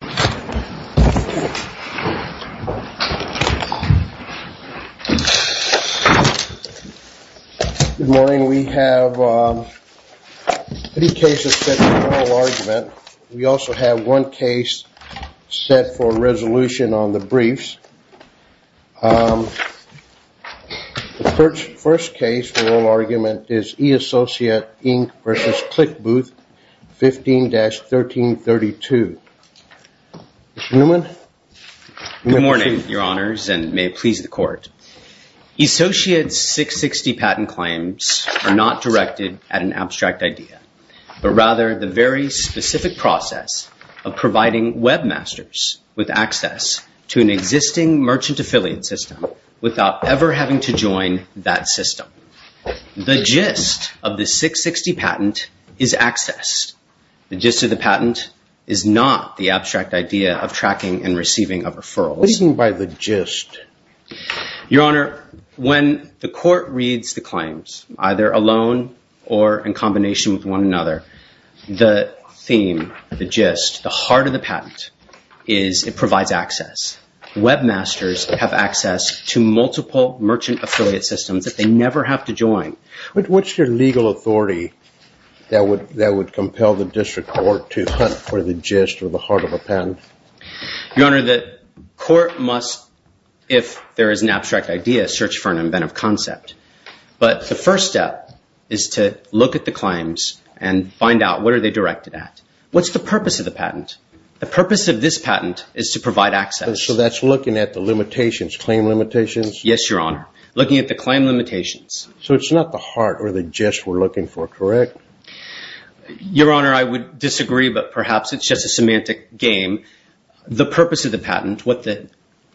Good morning. We have three cases set for oral argument. We also have one case set for resolution on the briefs. The first case for oral argument is E-Associate, Inc. v. Clickbooth 15-1332. Mr. Newman. Good morning, Your Honors, and may it please the Court. E-Associate's 660 patent claims are not directed at an abstract idea, but rather the very specific process of providing webmasters with access to an existing merchant affiliate system without ever having to join that system. The gist of the 660 patent is access. The gist of the patent is not the abstract idea of tracking and receiving of referrals. What do you mean by the gist? Your Honor, when the Court reads the claims, either alone or in combination with one another, the theme, the gist, the heart of the patent is it provides access. Webmasters have access to multiple merchant affiliate systems that they never have to join. What's your legal authority that would compel the District Court to hunt for the gist or the heart of a patent? Your Honor, the Court must, if there is an abstract idea, search for an inventive concept. But the first step is to look at the claims and find out what are they directed at. What's the purpose of the patent? The purpose of this patent is to provide access. So that's looking at the limitations, claim limitations? Yes, Your Honor. Looking at the claim limitations. So it's not the heart or the gist we're looking for, correct? Your Honor, I would disagree, but perhaps it's just a semantic game. The purpose of the patent, what the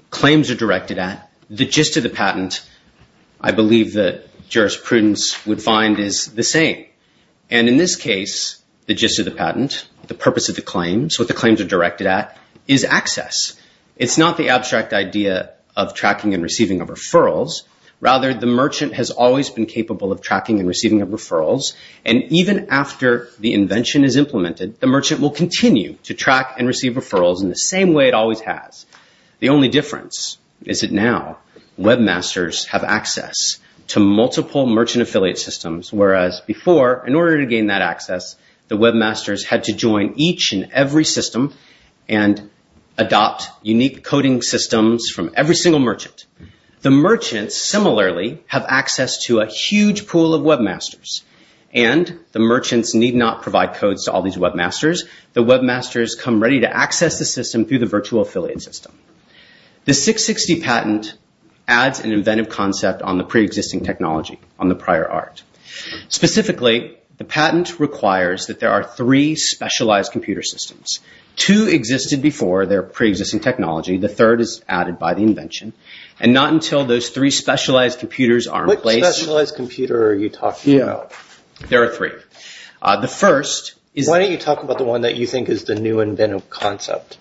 claims are directed at, the gist of the patent, I believe that jurisprudence would find is the same. And in this case, the gist of the patent, the purpose of the claims, what the claims are directed at, is access. It's not the abstract idea of tracking and receiving of referrals. Rather, the merchant has always been capable of tracking and receiving of referrals. And even after the invention is implemented, the merchant will continue to track and receive referrals in the same way it always has. The only difference is that now webmasters have access to multiple merchant affiliate systems. Whereas before, in order to gain that access, the webmasters had to join each and every system and adopt unique coding systems from every single merchant. The merchants, similarly, have access to a huge pool of webmasters. And the merchants need not provide codes to all these webmasters. The webmasters come ready to access the system through the virtual affiliate system. The 660 patent adds an inventive concept on the preexisting technology, on the prior art. Specifically, the patent requires that there are three specialized computer systems. Two existed before their preexisting technology. The third is added by the invention. And not until those three specialized computers are in place... What specialized computer are you talking about? There are three. The first is... Why don't you talk about the one that you think is the new inventive concept?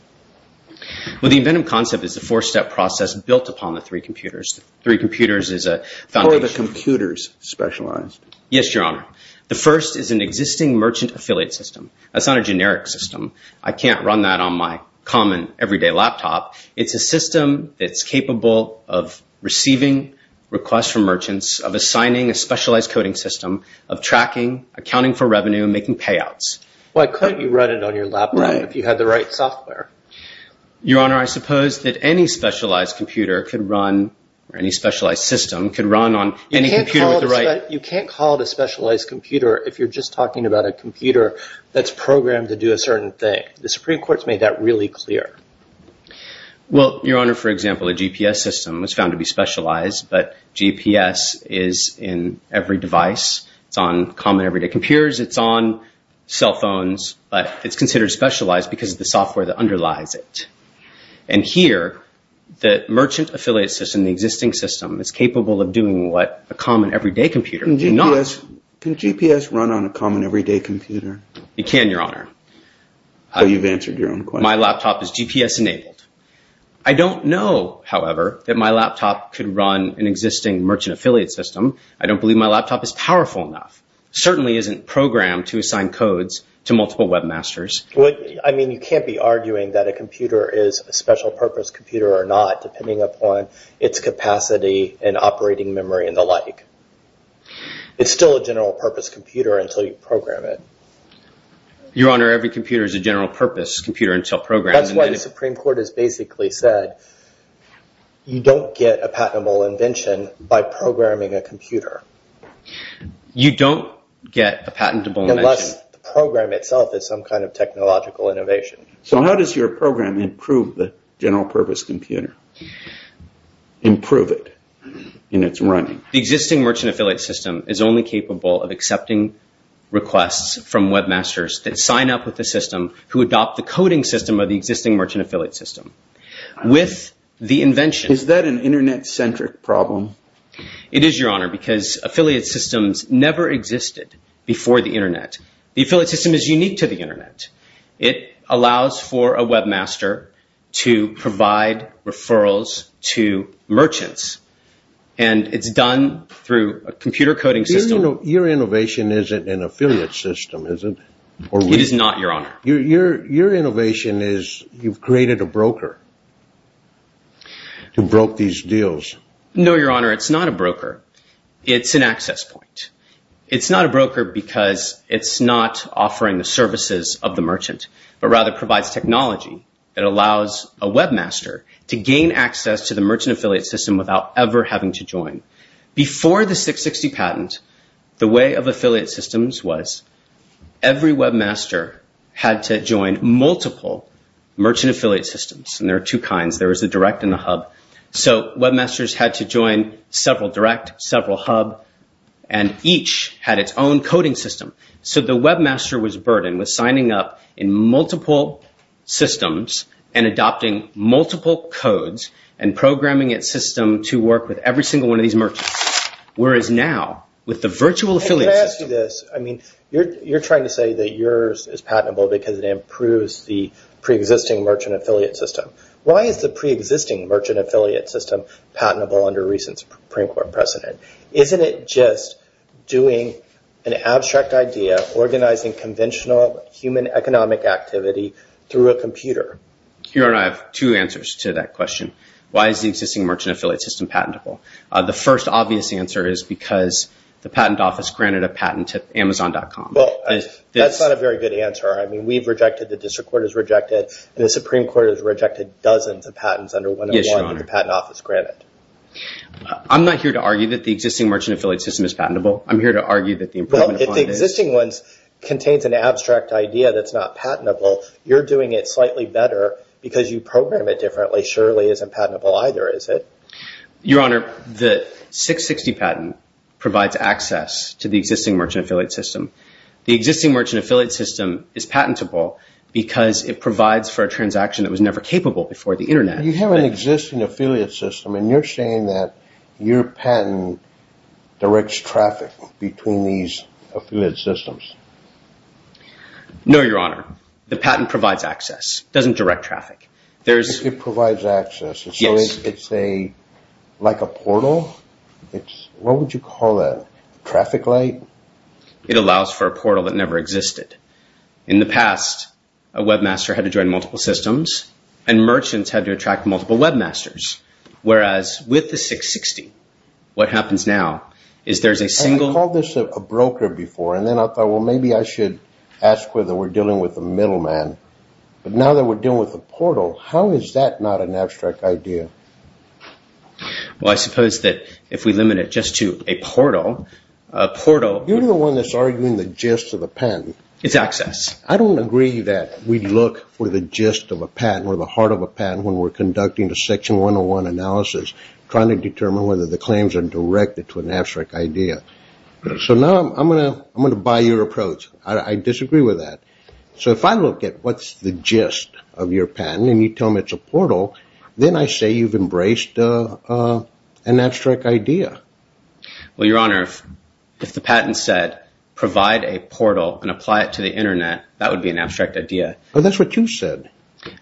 Well, the inventive concept is the four-step process built upon the three computers. Three computers is a foundation... Or the computers specialized. Yes, Your Honor. The first is an existing merchant affiliate system. That's not a generic system. I can't run that on my common, everyday laptop. It's a system that's capable of receiving requests from merchants, of assigning a specialized coding system, of tracking, accounting for revenue, making payouts. Why couldn't you run it on your laptop if you had the right software? Your Honor, I suppose that any specialized computer could run, or any specialized system could run on any computer with the right... You can't call it a specialized computer if you're just talking about a computer that's programmed to do a certain thing. The Supreme Court's made that really clear. Well, Your Honor, for example, a GPS system was found to be specialized, but GPS is in every device. It's on common, everyday computers. It's on cell phones. But it's considered specialized because of the software that underlies it. And here, the merchant affiliate system, the existing system, is capable of doing what a common, everyday computer cannot. Can GPS run on a common, everyday computer? It can, Your Honor. So you've answered your own question. My laptop is GPS-enabled. I don't know, however, that my laptop could run an existing merchant affiliate system. I don't believe my laptop is powerful enough. It certainly isn't programmed to assign codes to multiple webmasters. I mean, you can't be arguing that a computer is a special-purpose computer or not, depending upon its capacity and operating memory and the like. It's still a general-purpose computer until you program it. Your Honor, every computer is a general-purpose computer until programmed. That's why the Supreme Court has basically said you don't get a patentable invention by programming a computer. You don't get a patentable invention. Unless the program itself is some kind of technological innovation. So how does your program improve the general-purpose computer? Improve it in its running? The existing merchant affiliate system is only capable of accepting requests from webmasters that sign up with the system, who adopt the coding system of the existing merchant affiliate system. With the invention... Is that an Internet-centric problem? It is, Your Honor, because affiliate systems never existed before the Internet. The affiliate system is unique to the Internet. It allows for a webmaster to provide referrals to merchants, and it's done through a computer coding system. Your innovation isn't an affiliate system, is it? It is not, Your Honor. Your innovation is you've created a broker to broker these deals. No, Your Honor, it's not a broker. It's an access point. It's not a broker because it's not offering the services of the merchant, but rather provides technology that allows a webmaster to gain access to the merchant affiliate system without ever having to join. Before the 660 patent, the way of affiliate systems was every webmaster had to join multiple merchant affiliate systems, and there are two kinds. There is a direct and a hub. So webmasters had to join several direct, several hub, and each had its own coding system. So the webmaster was burdened with signing up in multiple systems and adopting multiple codes and programming its system to work with every single one of these merchants, whereas now with the virtual affiliate system... Let me ask you this. I mean, you're trying to say that yours is patentable because it improves the preexisting merchant affiliate system. Why is the preexisting merchant affiliate system patentable under recent Supreme Court precedent? Isn't it just doing an abstract idea, organizing conventional human economic activity through a computer? Your Honor, I have two answers to that question. Why is the existing merchant affiliate system patentable? The first obvious answer is because the patent office granted a patent to Amazon.com. Well, that's not a very good answer. I mean, we've rejected, the district court has rejected, and the Supreme Court has rejected dozens of patents under 101 that the patent office granted. I'm not here to argue that the existing merchant affiliate system is patentable. I'm here to argue that the improvement upon this... Well, if the existing one contains an abstract idea that's not patentable, you're doing it slightly better because you program it differently surely isn't patentable either, is it? Your Honor, the 660 patent provides access to the existing merchant affiliate system. The existing merchant affiliate system is patentable because it provides for a transaction that was never capable before the Internet. You have an existing affiliate system, and you're saying that your patent directs traffic between these affiliate systems. No, Your Honor. The patent provides access. It doesn't direct traffic. It provides access. So it's like a portal? What would you call that? Traffic light? It allows for a portal that never existed. In the past, a webmaster had to join multiple systems, and merchants had to attract multiple webmasters. Whereas with the 660, what happens now is there's a single... I called this a broker before, and then I thought, well, maybe I should ask whether we're dealing with a middleman. But now that we're dealing with a portal, how is that not an abstract idea? Well, I suppose that if we limit it just to a portal... You're the one that's arguing the gist of the patent. It's access. I don't agree that we look for the gist of a patent or the heart of a patent when we're conducting a Section 101 analysis, trying to determine whether the claims are directed to an abstract idea. So now I'm going to buy your approach. I disagree with that. So if I look at what's the gist of your patent and you tell me it's a portal, then I say you've embraced an abstract idea. Well, Your Honor, if the patent said provide a portal and apply it to the Internet, that would be an abstract idea. Well, that's what you said.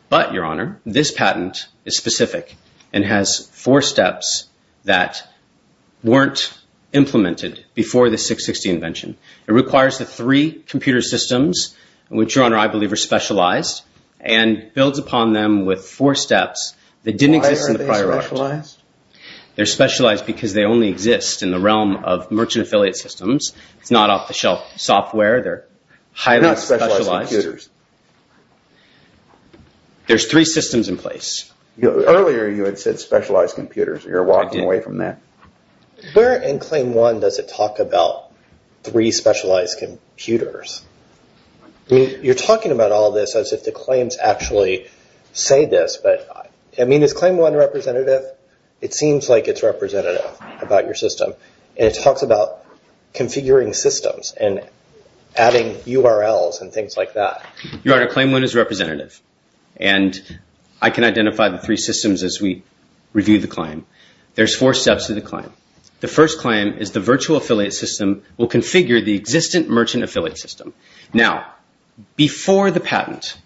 But, Your Honor, this patent is specific and has four steps that weren't implemented before the 660 invention. It requires the three computer systems, which, Your Honor, I believe are specialized, and builds upon them with four steps that didn't exist in the prior art. Why are they specialized? They're specialized because they only exist in the realm of merchant affiliate systems. It's not off-the-shelf software. They're not specialized computers. There's three systems in place. Earlier you had said specialized computers. You're walking away from that. Where in Claim 1 does it talk about three specialized computers? You're talking about all this as if the claims actually say this, but, I mean, is Claim 1 representative? It seems like it's representative about your system. And it talks about configuring systems and adding URLs and things like that. Your Honor, Claim 1 is representative. And I can identify the three systems as we review the claim. There's four steps to the claim. The first claim is the virtual affiliate system will configure the existing merchant affiliate system. Now, before the patent,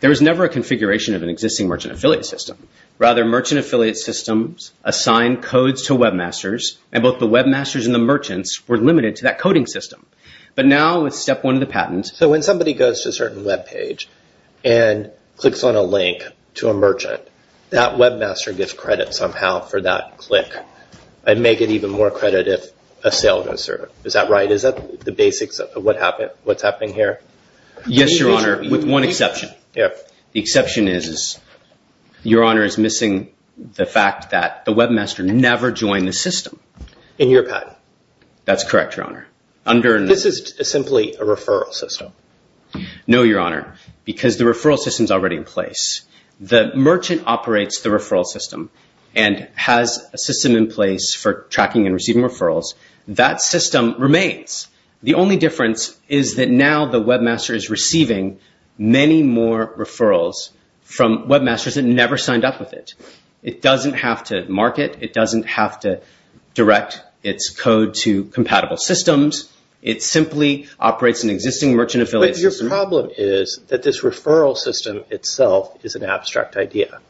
there was never a configuration of an existing merchant affiliate system. Rather, merchant affiliate systems assigned codes to webmasters, and both the webmasters and the merchants were limited to that coding system. But now with Step 1 of the patent... So when somebody goes to a certain web page and clicks on a link to a merchant, that webmaster gets credit somehow for that click, and may get even more credit if a sale goes through. Is that right? Is that the basics of what's happening here? Yes, Your Honor, with one exception. The exception is Your Honor is missing the fact that the webmaster never joined the system. In your patent. That's correct, Your Honor. This is simply a referral system. No, Your Honor, because the referral system is already in place. The merchant operates the referral system and has a system in place for tracking and receiving referrals. That system remains. The only difference is that now the webmaster is receiving many more referrals from webmasters that never signed up with it. It doesn't have to market. It doesn't have to direct its code to compatible systems. It simply operates an existing merchant affiliate system. But your problem is that this referral system itself is an abstract idea.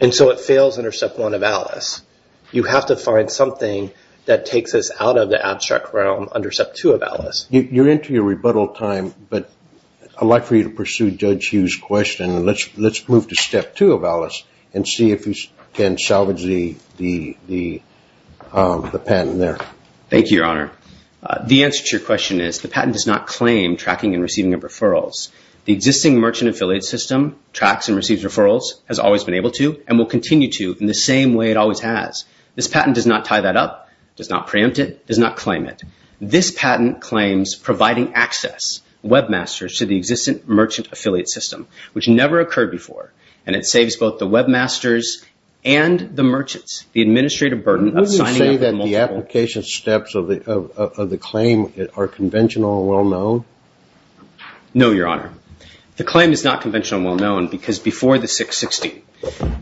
And so it fails under Step 1 of Alice. You have to find something that takes us out of the abstract realm under Step 2 of Alice. You're into your rebuttal time, but I'd like for you to pursue Judge Hugh's question. Let's move to Step 2 of Alice and see if you can salvage the patent there. Thank you, Your Honor. The answer to your question is the patent does not claim tracking and receiving of referrals. The existing merchant affiliate system tracks and receives referrals, has always been able to, and will continue to in the same way it always has. This patent does not tie that up, does not preempt it, does not claim it. This patent claims providing access, webmasters, to the existing merchant affiliate system, which never occurred before, and it saves both the webmasters and the merchants the administrative burden of signing up with multiple. Would you say that the application steps of the claim are conventional and well-known? No, Your Honor. The claim is not conventional and well-known because before the 660,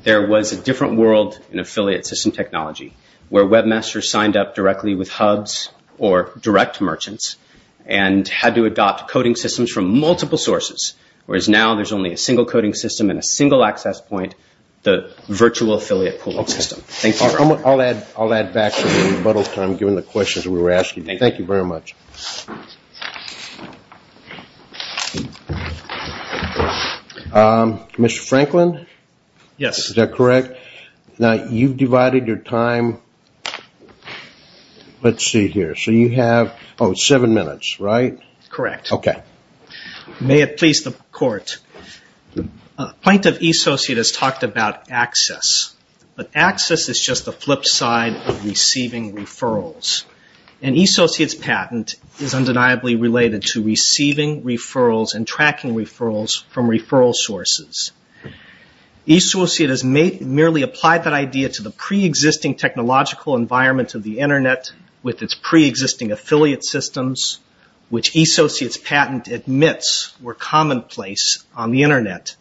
there was a different world in affiliate system technology, where webmasters signed up directly with hubs or direct merchants and had to adopt coding systems from multiple sources, whereas now there's only a single coding system and a single access point, the virtual affiliate pooling system. I'll add back to the rebuttal time, given the questions we were asking. Thank you very much. Thank you. Mr. Franklin? Yes. Is that correct? Now, you've divided your time. Let's see here. So you have seven minutes, right? Correct. Okay. May it please the Court. Plaintiff E-Sociate has talked about access, but access is just the flip side of receiving referrals. And E-Sociate's patent is undeniably related to receiving referrals and tracking referrals from referral sources. E-Sociate has merely applied that idea to the preexisting technological environment of the Internet with its preexisting affiliate systems, which E-Sociate's patent admits were commonplace on the Internet.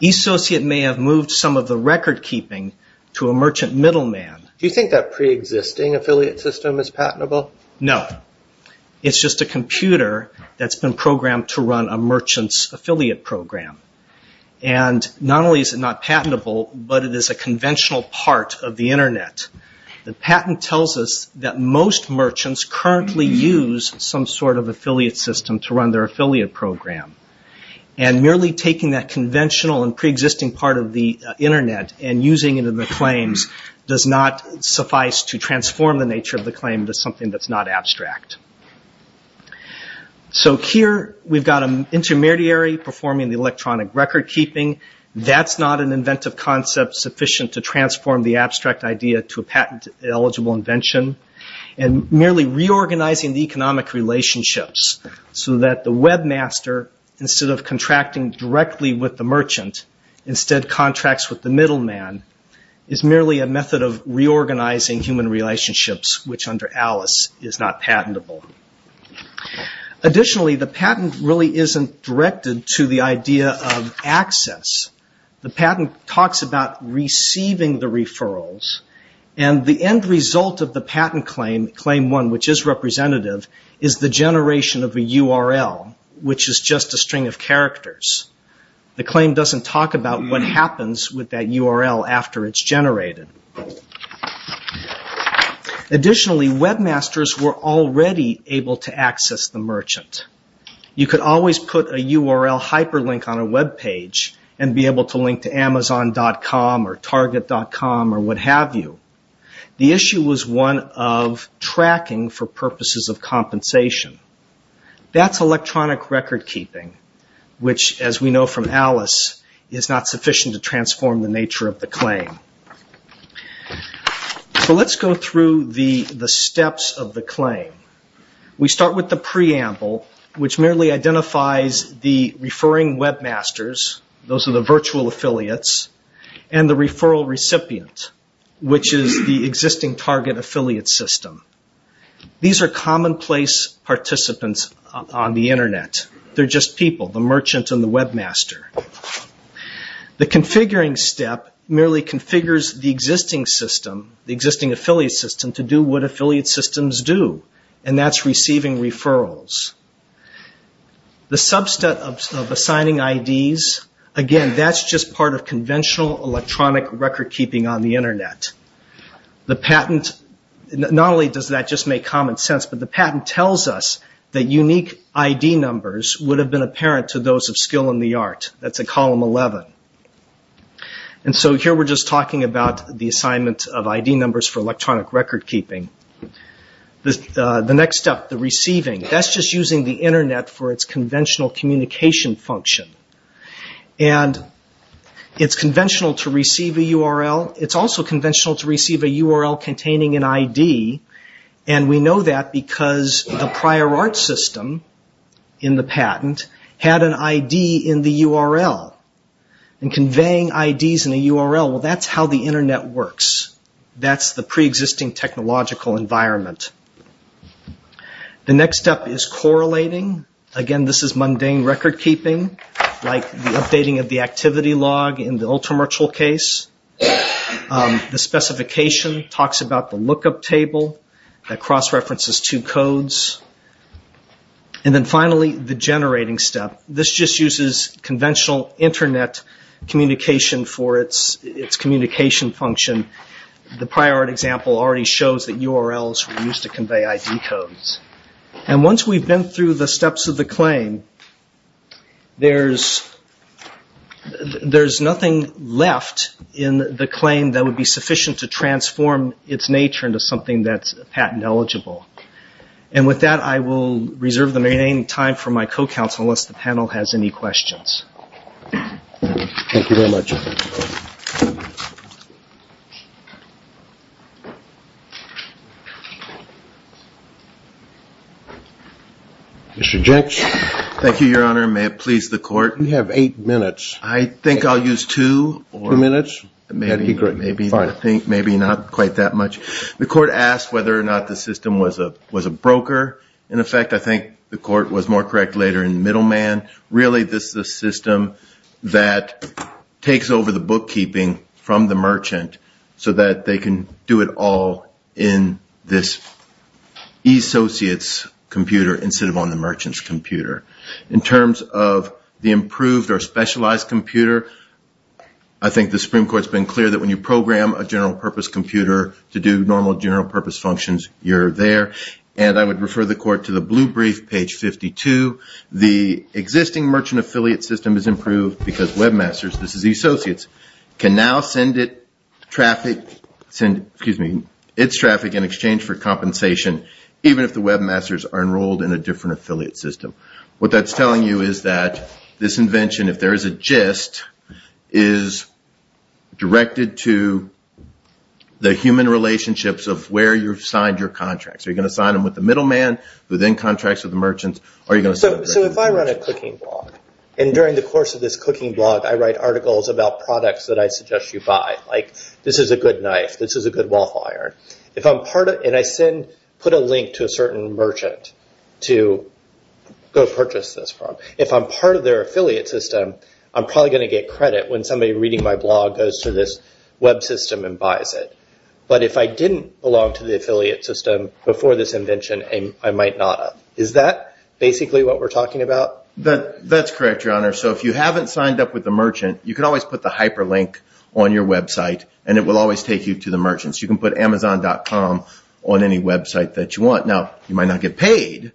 E-Sociate may have moved some of the record-keeping to a merchant middleman. Do you think that preexisting affiliate system is patentable? No. It's just a computer that's been programmed to run a merchant's affiliate program. And not only is it not patentable, but it is a conventional part of the Internet. The patent tells us that most merchants currently use some sort of affiliate system to run their affiliate program. And merely taking that conventional and preexisting part of the Internet and using it in the claims does not suffice to transform the nature of the claim into something that's not abstract. So here we've got an intermediary performing the electronic record-keeping. That's not an inventive concept sufficient to transform the abstract idea to a patent-eligible invention. And merely reorganizing the economic relationships so that the webmaster, instead of contracting directly with the merchant, instead contracts with the middleman, is merely a method of reorganizing human relationships, which under Alice is not patentable. Additionally, the patent really isn't directed to the idea of access. The patent talks about receiving the referrals. And the end result of the patent claim, claim one, which is representative, is the generation of a URL, which is just a string of characters. The claim doesn't talk about what happens with that URL after it's generated. Additionally, webmasters were already able to access the merchant. You could always put a URL hyperlink on a web page and be able to link to Amazon.com or Target.com or what have you. The issue was one of tracking for purposes of compensation. That's electronic record keeping, which, as we know from Alice, is not sufficient to transform the nature of the claim. So let's go through the steps of the claim. We start with the preamble, which merely identifies the referring webmasters, those are the virtual affiliates, and the referral recipient, which is the existing Target affiliate system. These are commonplace participants on the Internet. They're just people, the merchant and the webmaster. The configuring step merely configures the existing system, the existing affiliate system, to do what affiliate systems do, and that's receiving referrals. The subset of assigning IDs, again, that's just part of conventional electronic record keeping on the Internet. The patent, not only does that just make common sense, but the patent tells us that unique ID numbers would have been apparent to those of skill in the art. That's at column 11. And so here we're just talking about the assignment of ID numbers for electronic record keeping. The next step, the receiving, that's just using the Internet for its conventional communication function. And it's conventional to receive a URL. It's also conventional to receive a URL containing an ID, and we know that because the prior art system in the patent had an ID in the URL. And conveying IDs in a URL, well, that's how the Internet works. That's the preexisting technological environment. The next step is correlating. Again, this is mundane record keeping, like the updating of the activity log in the Ultramarchal case. The specification talks about the lookup table that cross-references two codes. And then finally, the generating step. This just uses conventional Internet communication for its communication function. The prior art example already shows that URLs were used to convey ID codes. And once we've been through the steps of the claim, there's nothing left in the claim that would be sufficient to transform its nature into something that's patent eligible. And with that, I will reserve the remaining time for my co-counsel, unless the panel has any questions. Thank you very much. Mr. Jenks. Thank you, Your Honor. May it please the Court. You have eight minutes. I think I'll use two. Two minutes. That'd be great. Maybe not quite that much. The Court asked whether or not the system was a broker. In effect, I think the Court was more correct later in middleman. Really, this is a system that takes over the bookkeeping from the merchant so that they can do it all in this associate's computer instead of on the merchant's computer. In terms of the improved or specialized computer, I think the Supreme Court's been clear that when you program a general-purpose computer to do normal general-purpose functions, you're there. And I would refer the Court to the blue brief, page 52. The existing merchant affiliate system is improved because webmasters, this is the associates, can now send its traffic in exchange for compensation, even if the webmasters are enrolled in a different affiliate system. What that's telling you is that this invention, if there is a gist, is directed to the human relationships of where you've signed your contracts. Are you going to sign them with the middleman, within contracts with the merchants, or are you going to send them to the merchants? If I run a cooking blog, and during the course of this cooking blog, I write articles about products that I suggest you buy, like this is a good knife, this is a good waffle iron, and I put a link to a certain merchant to go purchase this from, if I'm part of their affiliate system, I'm probably going to get credit when somebody reading my blog goes to this web system and buys it. But if I didn't belong to the affiliate system before this invention, I might not. Is that basically what we're talking about? That's correct, Your Honor. So if you haven't signed up with the merchant, you can always put the hyperlink on your website, and it will always take you to the merchants. You can put Amazon.com on any website that you want. Now, you might not get paid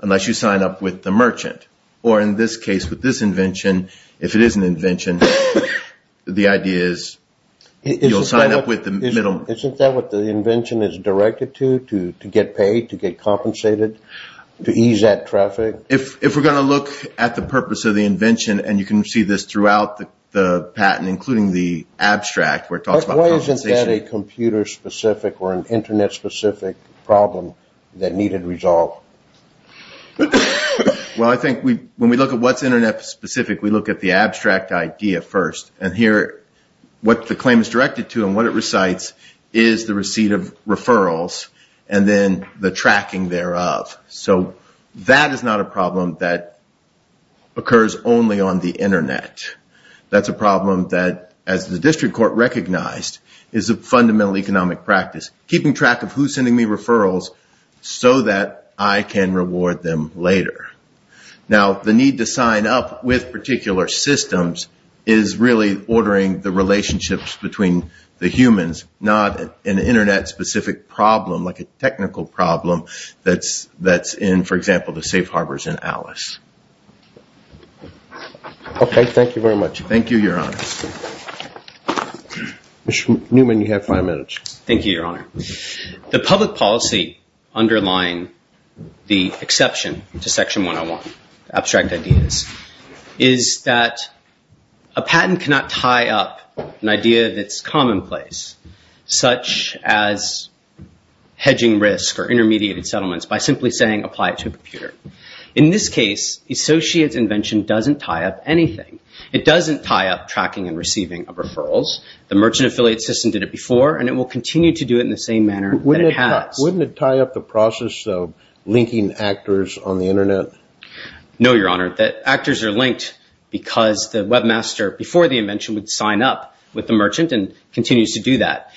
unless you sign up with the merchant. Or in this case, with this invention, if it is an invention, the idea is you'll sign up with the middleman. Isn't that what the invention is directed to, to get paid, to get compensated, to ease that traffic? If we're going to look at the purpose of the invention, and you can see this throughout the patent, including the abstract, where it talks about compensation. Why isn't that a computer-specific or an Internet-specific problem that needed to be resolved? Well, I think when we look at what's Internet-specific, we look at the abstract idea first. And here, what the claim is directed to and what it recites is the receipt of referrals and then the tracking thereof. So that is not a problem that occurs only on the Internet. That's a problem that, as the district court recognized, is a fundamental economic practice, keeping track of who's sending me referrals so that I can reward them later. Now, the need to sign up with particular systems is really ordering the relationships between the humans, not an Internet-specific problem like a technical problem that's in, for example, the safe harbors in Alice. Okay, thank you very much. Thank you, Your Honor. Mr. Newman, you have five minutes. Thank you, Your Honor. The public policy underlying the exception to Section 101, abstract ideas, is that a patent cannot tie up an idea that's commonplace, such as hedging risk or intermediated settlements, by simply saying apply it to a computer. In this case, Associates' invention doesn't tie up anything. It doesn't tie up tracking and receiving of referrals. The merchant affiliate system did it before, and it will continue to do it in the same manner that it has. Wouldn't it tie up the process of linking actors on the Internet? No, Your Honor. The actors are linked because the webmaster, before the invention, would sign up with the merchant and continues to do that.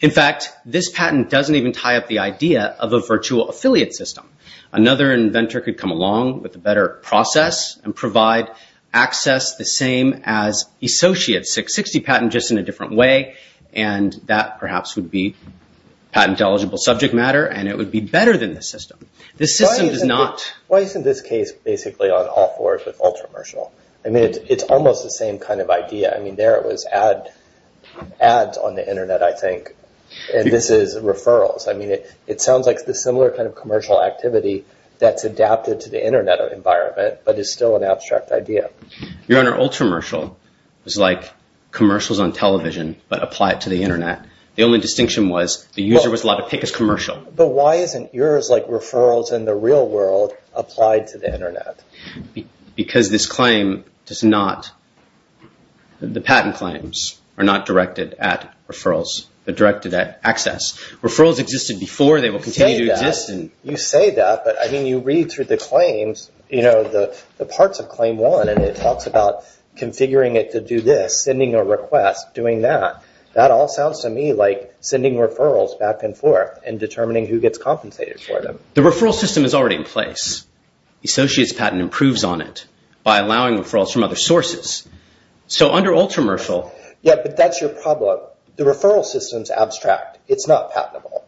In fact, this patent doesn't even tie up the idea of a virtual affiliate system. Another inventor could come along with a better process and provide access the same as Associates' 660 patent, just in a different way, and that perhaps would be patent-eligible subject matter, and it would be better than this system. This system does not... Why isn't this case basically on all fours with Ultramercial? I mean, it's almost the same kind of idea. I mean, there it was ads on the Internet, I think, and this is referrals. I mean, it sounds like the similar kind of commercial activity that's adapted to the Internet environment, but is still an abstract idea. Your Honor, Ultramercial is like commercials on television, but applied to the Internet. The only distinction was the user was allowed to pick his commercial. But why isn't yours, like referrals in the real world, applied to the Internet? Because this claim does not... The patent claims are not directed at referrals. They're directed at access. Referrals existed before. They will continue to exist. You say that, but, I mean, you read through the claims, you know, the parts of Claim 1, and it talks about configuring it to do this, sending a request, doing that. That all sounds to me like sending referrals back and forth and determining who gets compensated for them. The referral system is already in place. Associates' patent improves on it by allowing referrals from other sources. So under Ultramercial... Yeah, but that's your problem. The referral system is abstract. It's not patentable.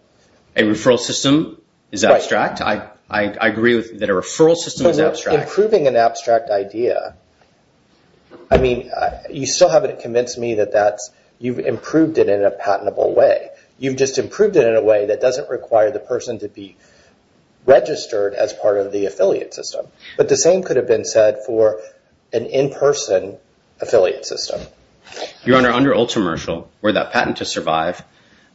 A referral system is abstract? I agree that a referral system is abstract. Improving an abstract idea... I mean, you still haven't convinced me that you've improved it in a patentable way. You've just improved it in a way that doesn't require the person to be registered as part of the affiliate system. But the same could have been said for an in-person affiliate system. Your Honor, under Ultramercial, were that patent to survive,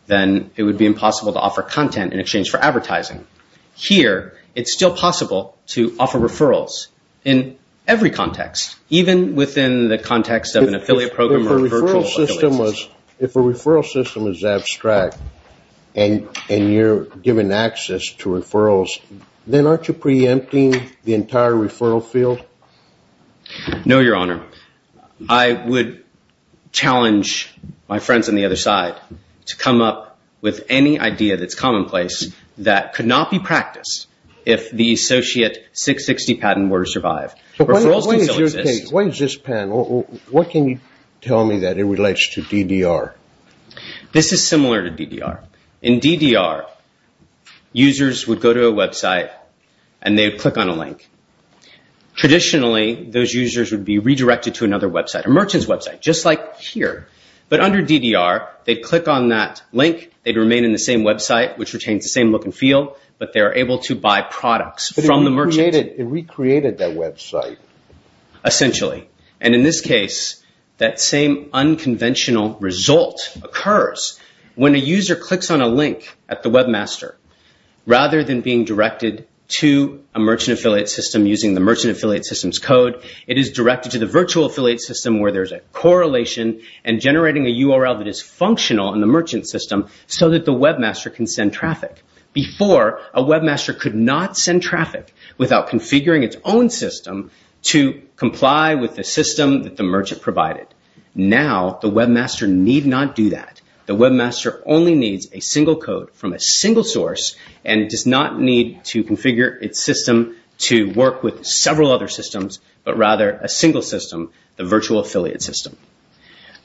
then it would be impossible to offer content in exchange for advertising. Here, it's still possible to offer referrals in every context, even within the context of an affiliate program or virtual... If a referral system is abstract and you're given access to referrals, then aren't you preempting the entire referral field? No, Your Honor. I would challenge my friends on the other side to come up with any idea that's commonplace that could not be practiced if the Associate 660 patent were to survive. What is this, Pan? What can you tell me that it relates to DDR? This is similar to DDR. In DDR, users would go to a website and they would click on a link. Traditionally, those users would be redirected to another website, a merchant's website, just like here. But under DDR, they'd click on that link, they'd remain in the same website, which retains the same look and feel, but they're able to buy products from the merchant. It recreated that website. Essentially. And in this case, that same unconventional result occurs. When a user clicks on a link at the webmaster, rather than being directed to a merchant affiliate system using the merchant affiliate system's code, it is directed to the virtual affiliate system where there's a correlation and generating a URL that is functional in the merchant system so that the webmaster can send traffic. Before, a webmaster could not send traffic without configuring its own system to comply with the system that the merchant provided. Now, the webmaster need not do that. The webmaster only needs a single code from a single source and does not need to configure its system to work with several other systems, but rather a single system, the virtual affiliate system.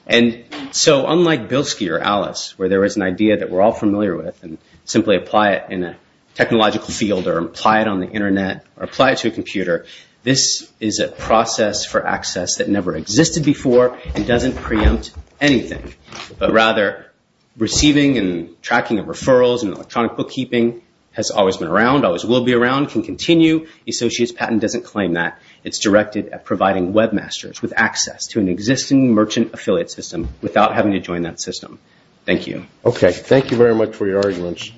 And so unlike Bilski or Alice, where there was an idea that we're all familiar with and simply apply it in a technological field or apply it on the Internet or apply it to a computer, this is a process for access that never existed before and doesn't preempt anything, but rather receiving and tracking of referrals and electronic bookkeeping has always been around, always will be around, can continue. Associates Patent doesn't claim that. It's directed at providing webmasters with access to an existing merchant affiliate system without having to join that system. Thank you. Okay. Thank you very much for your arguments.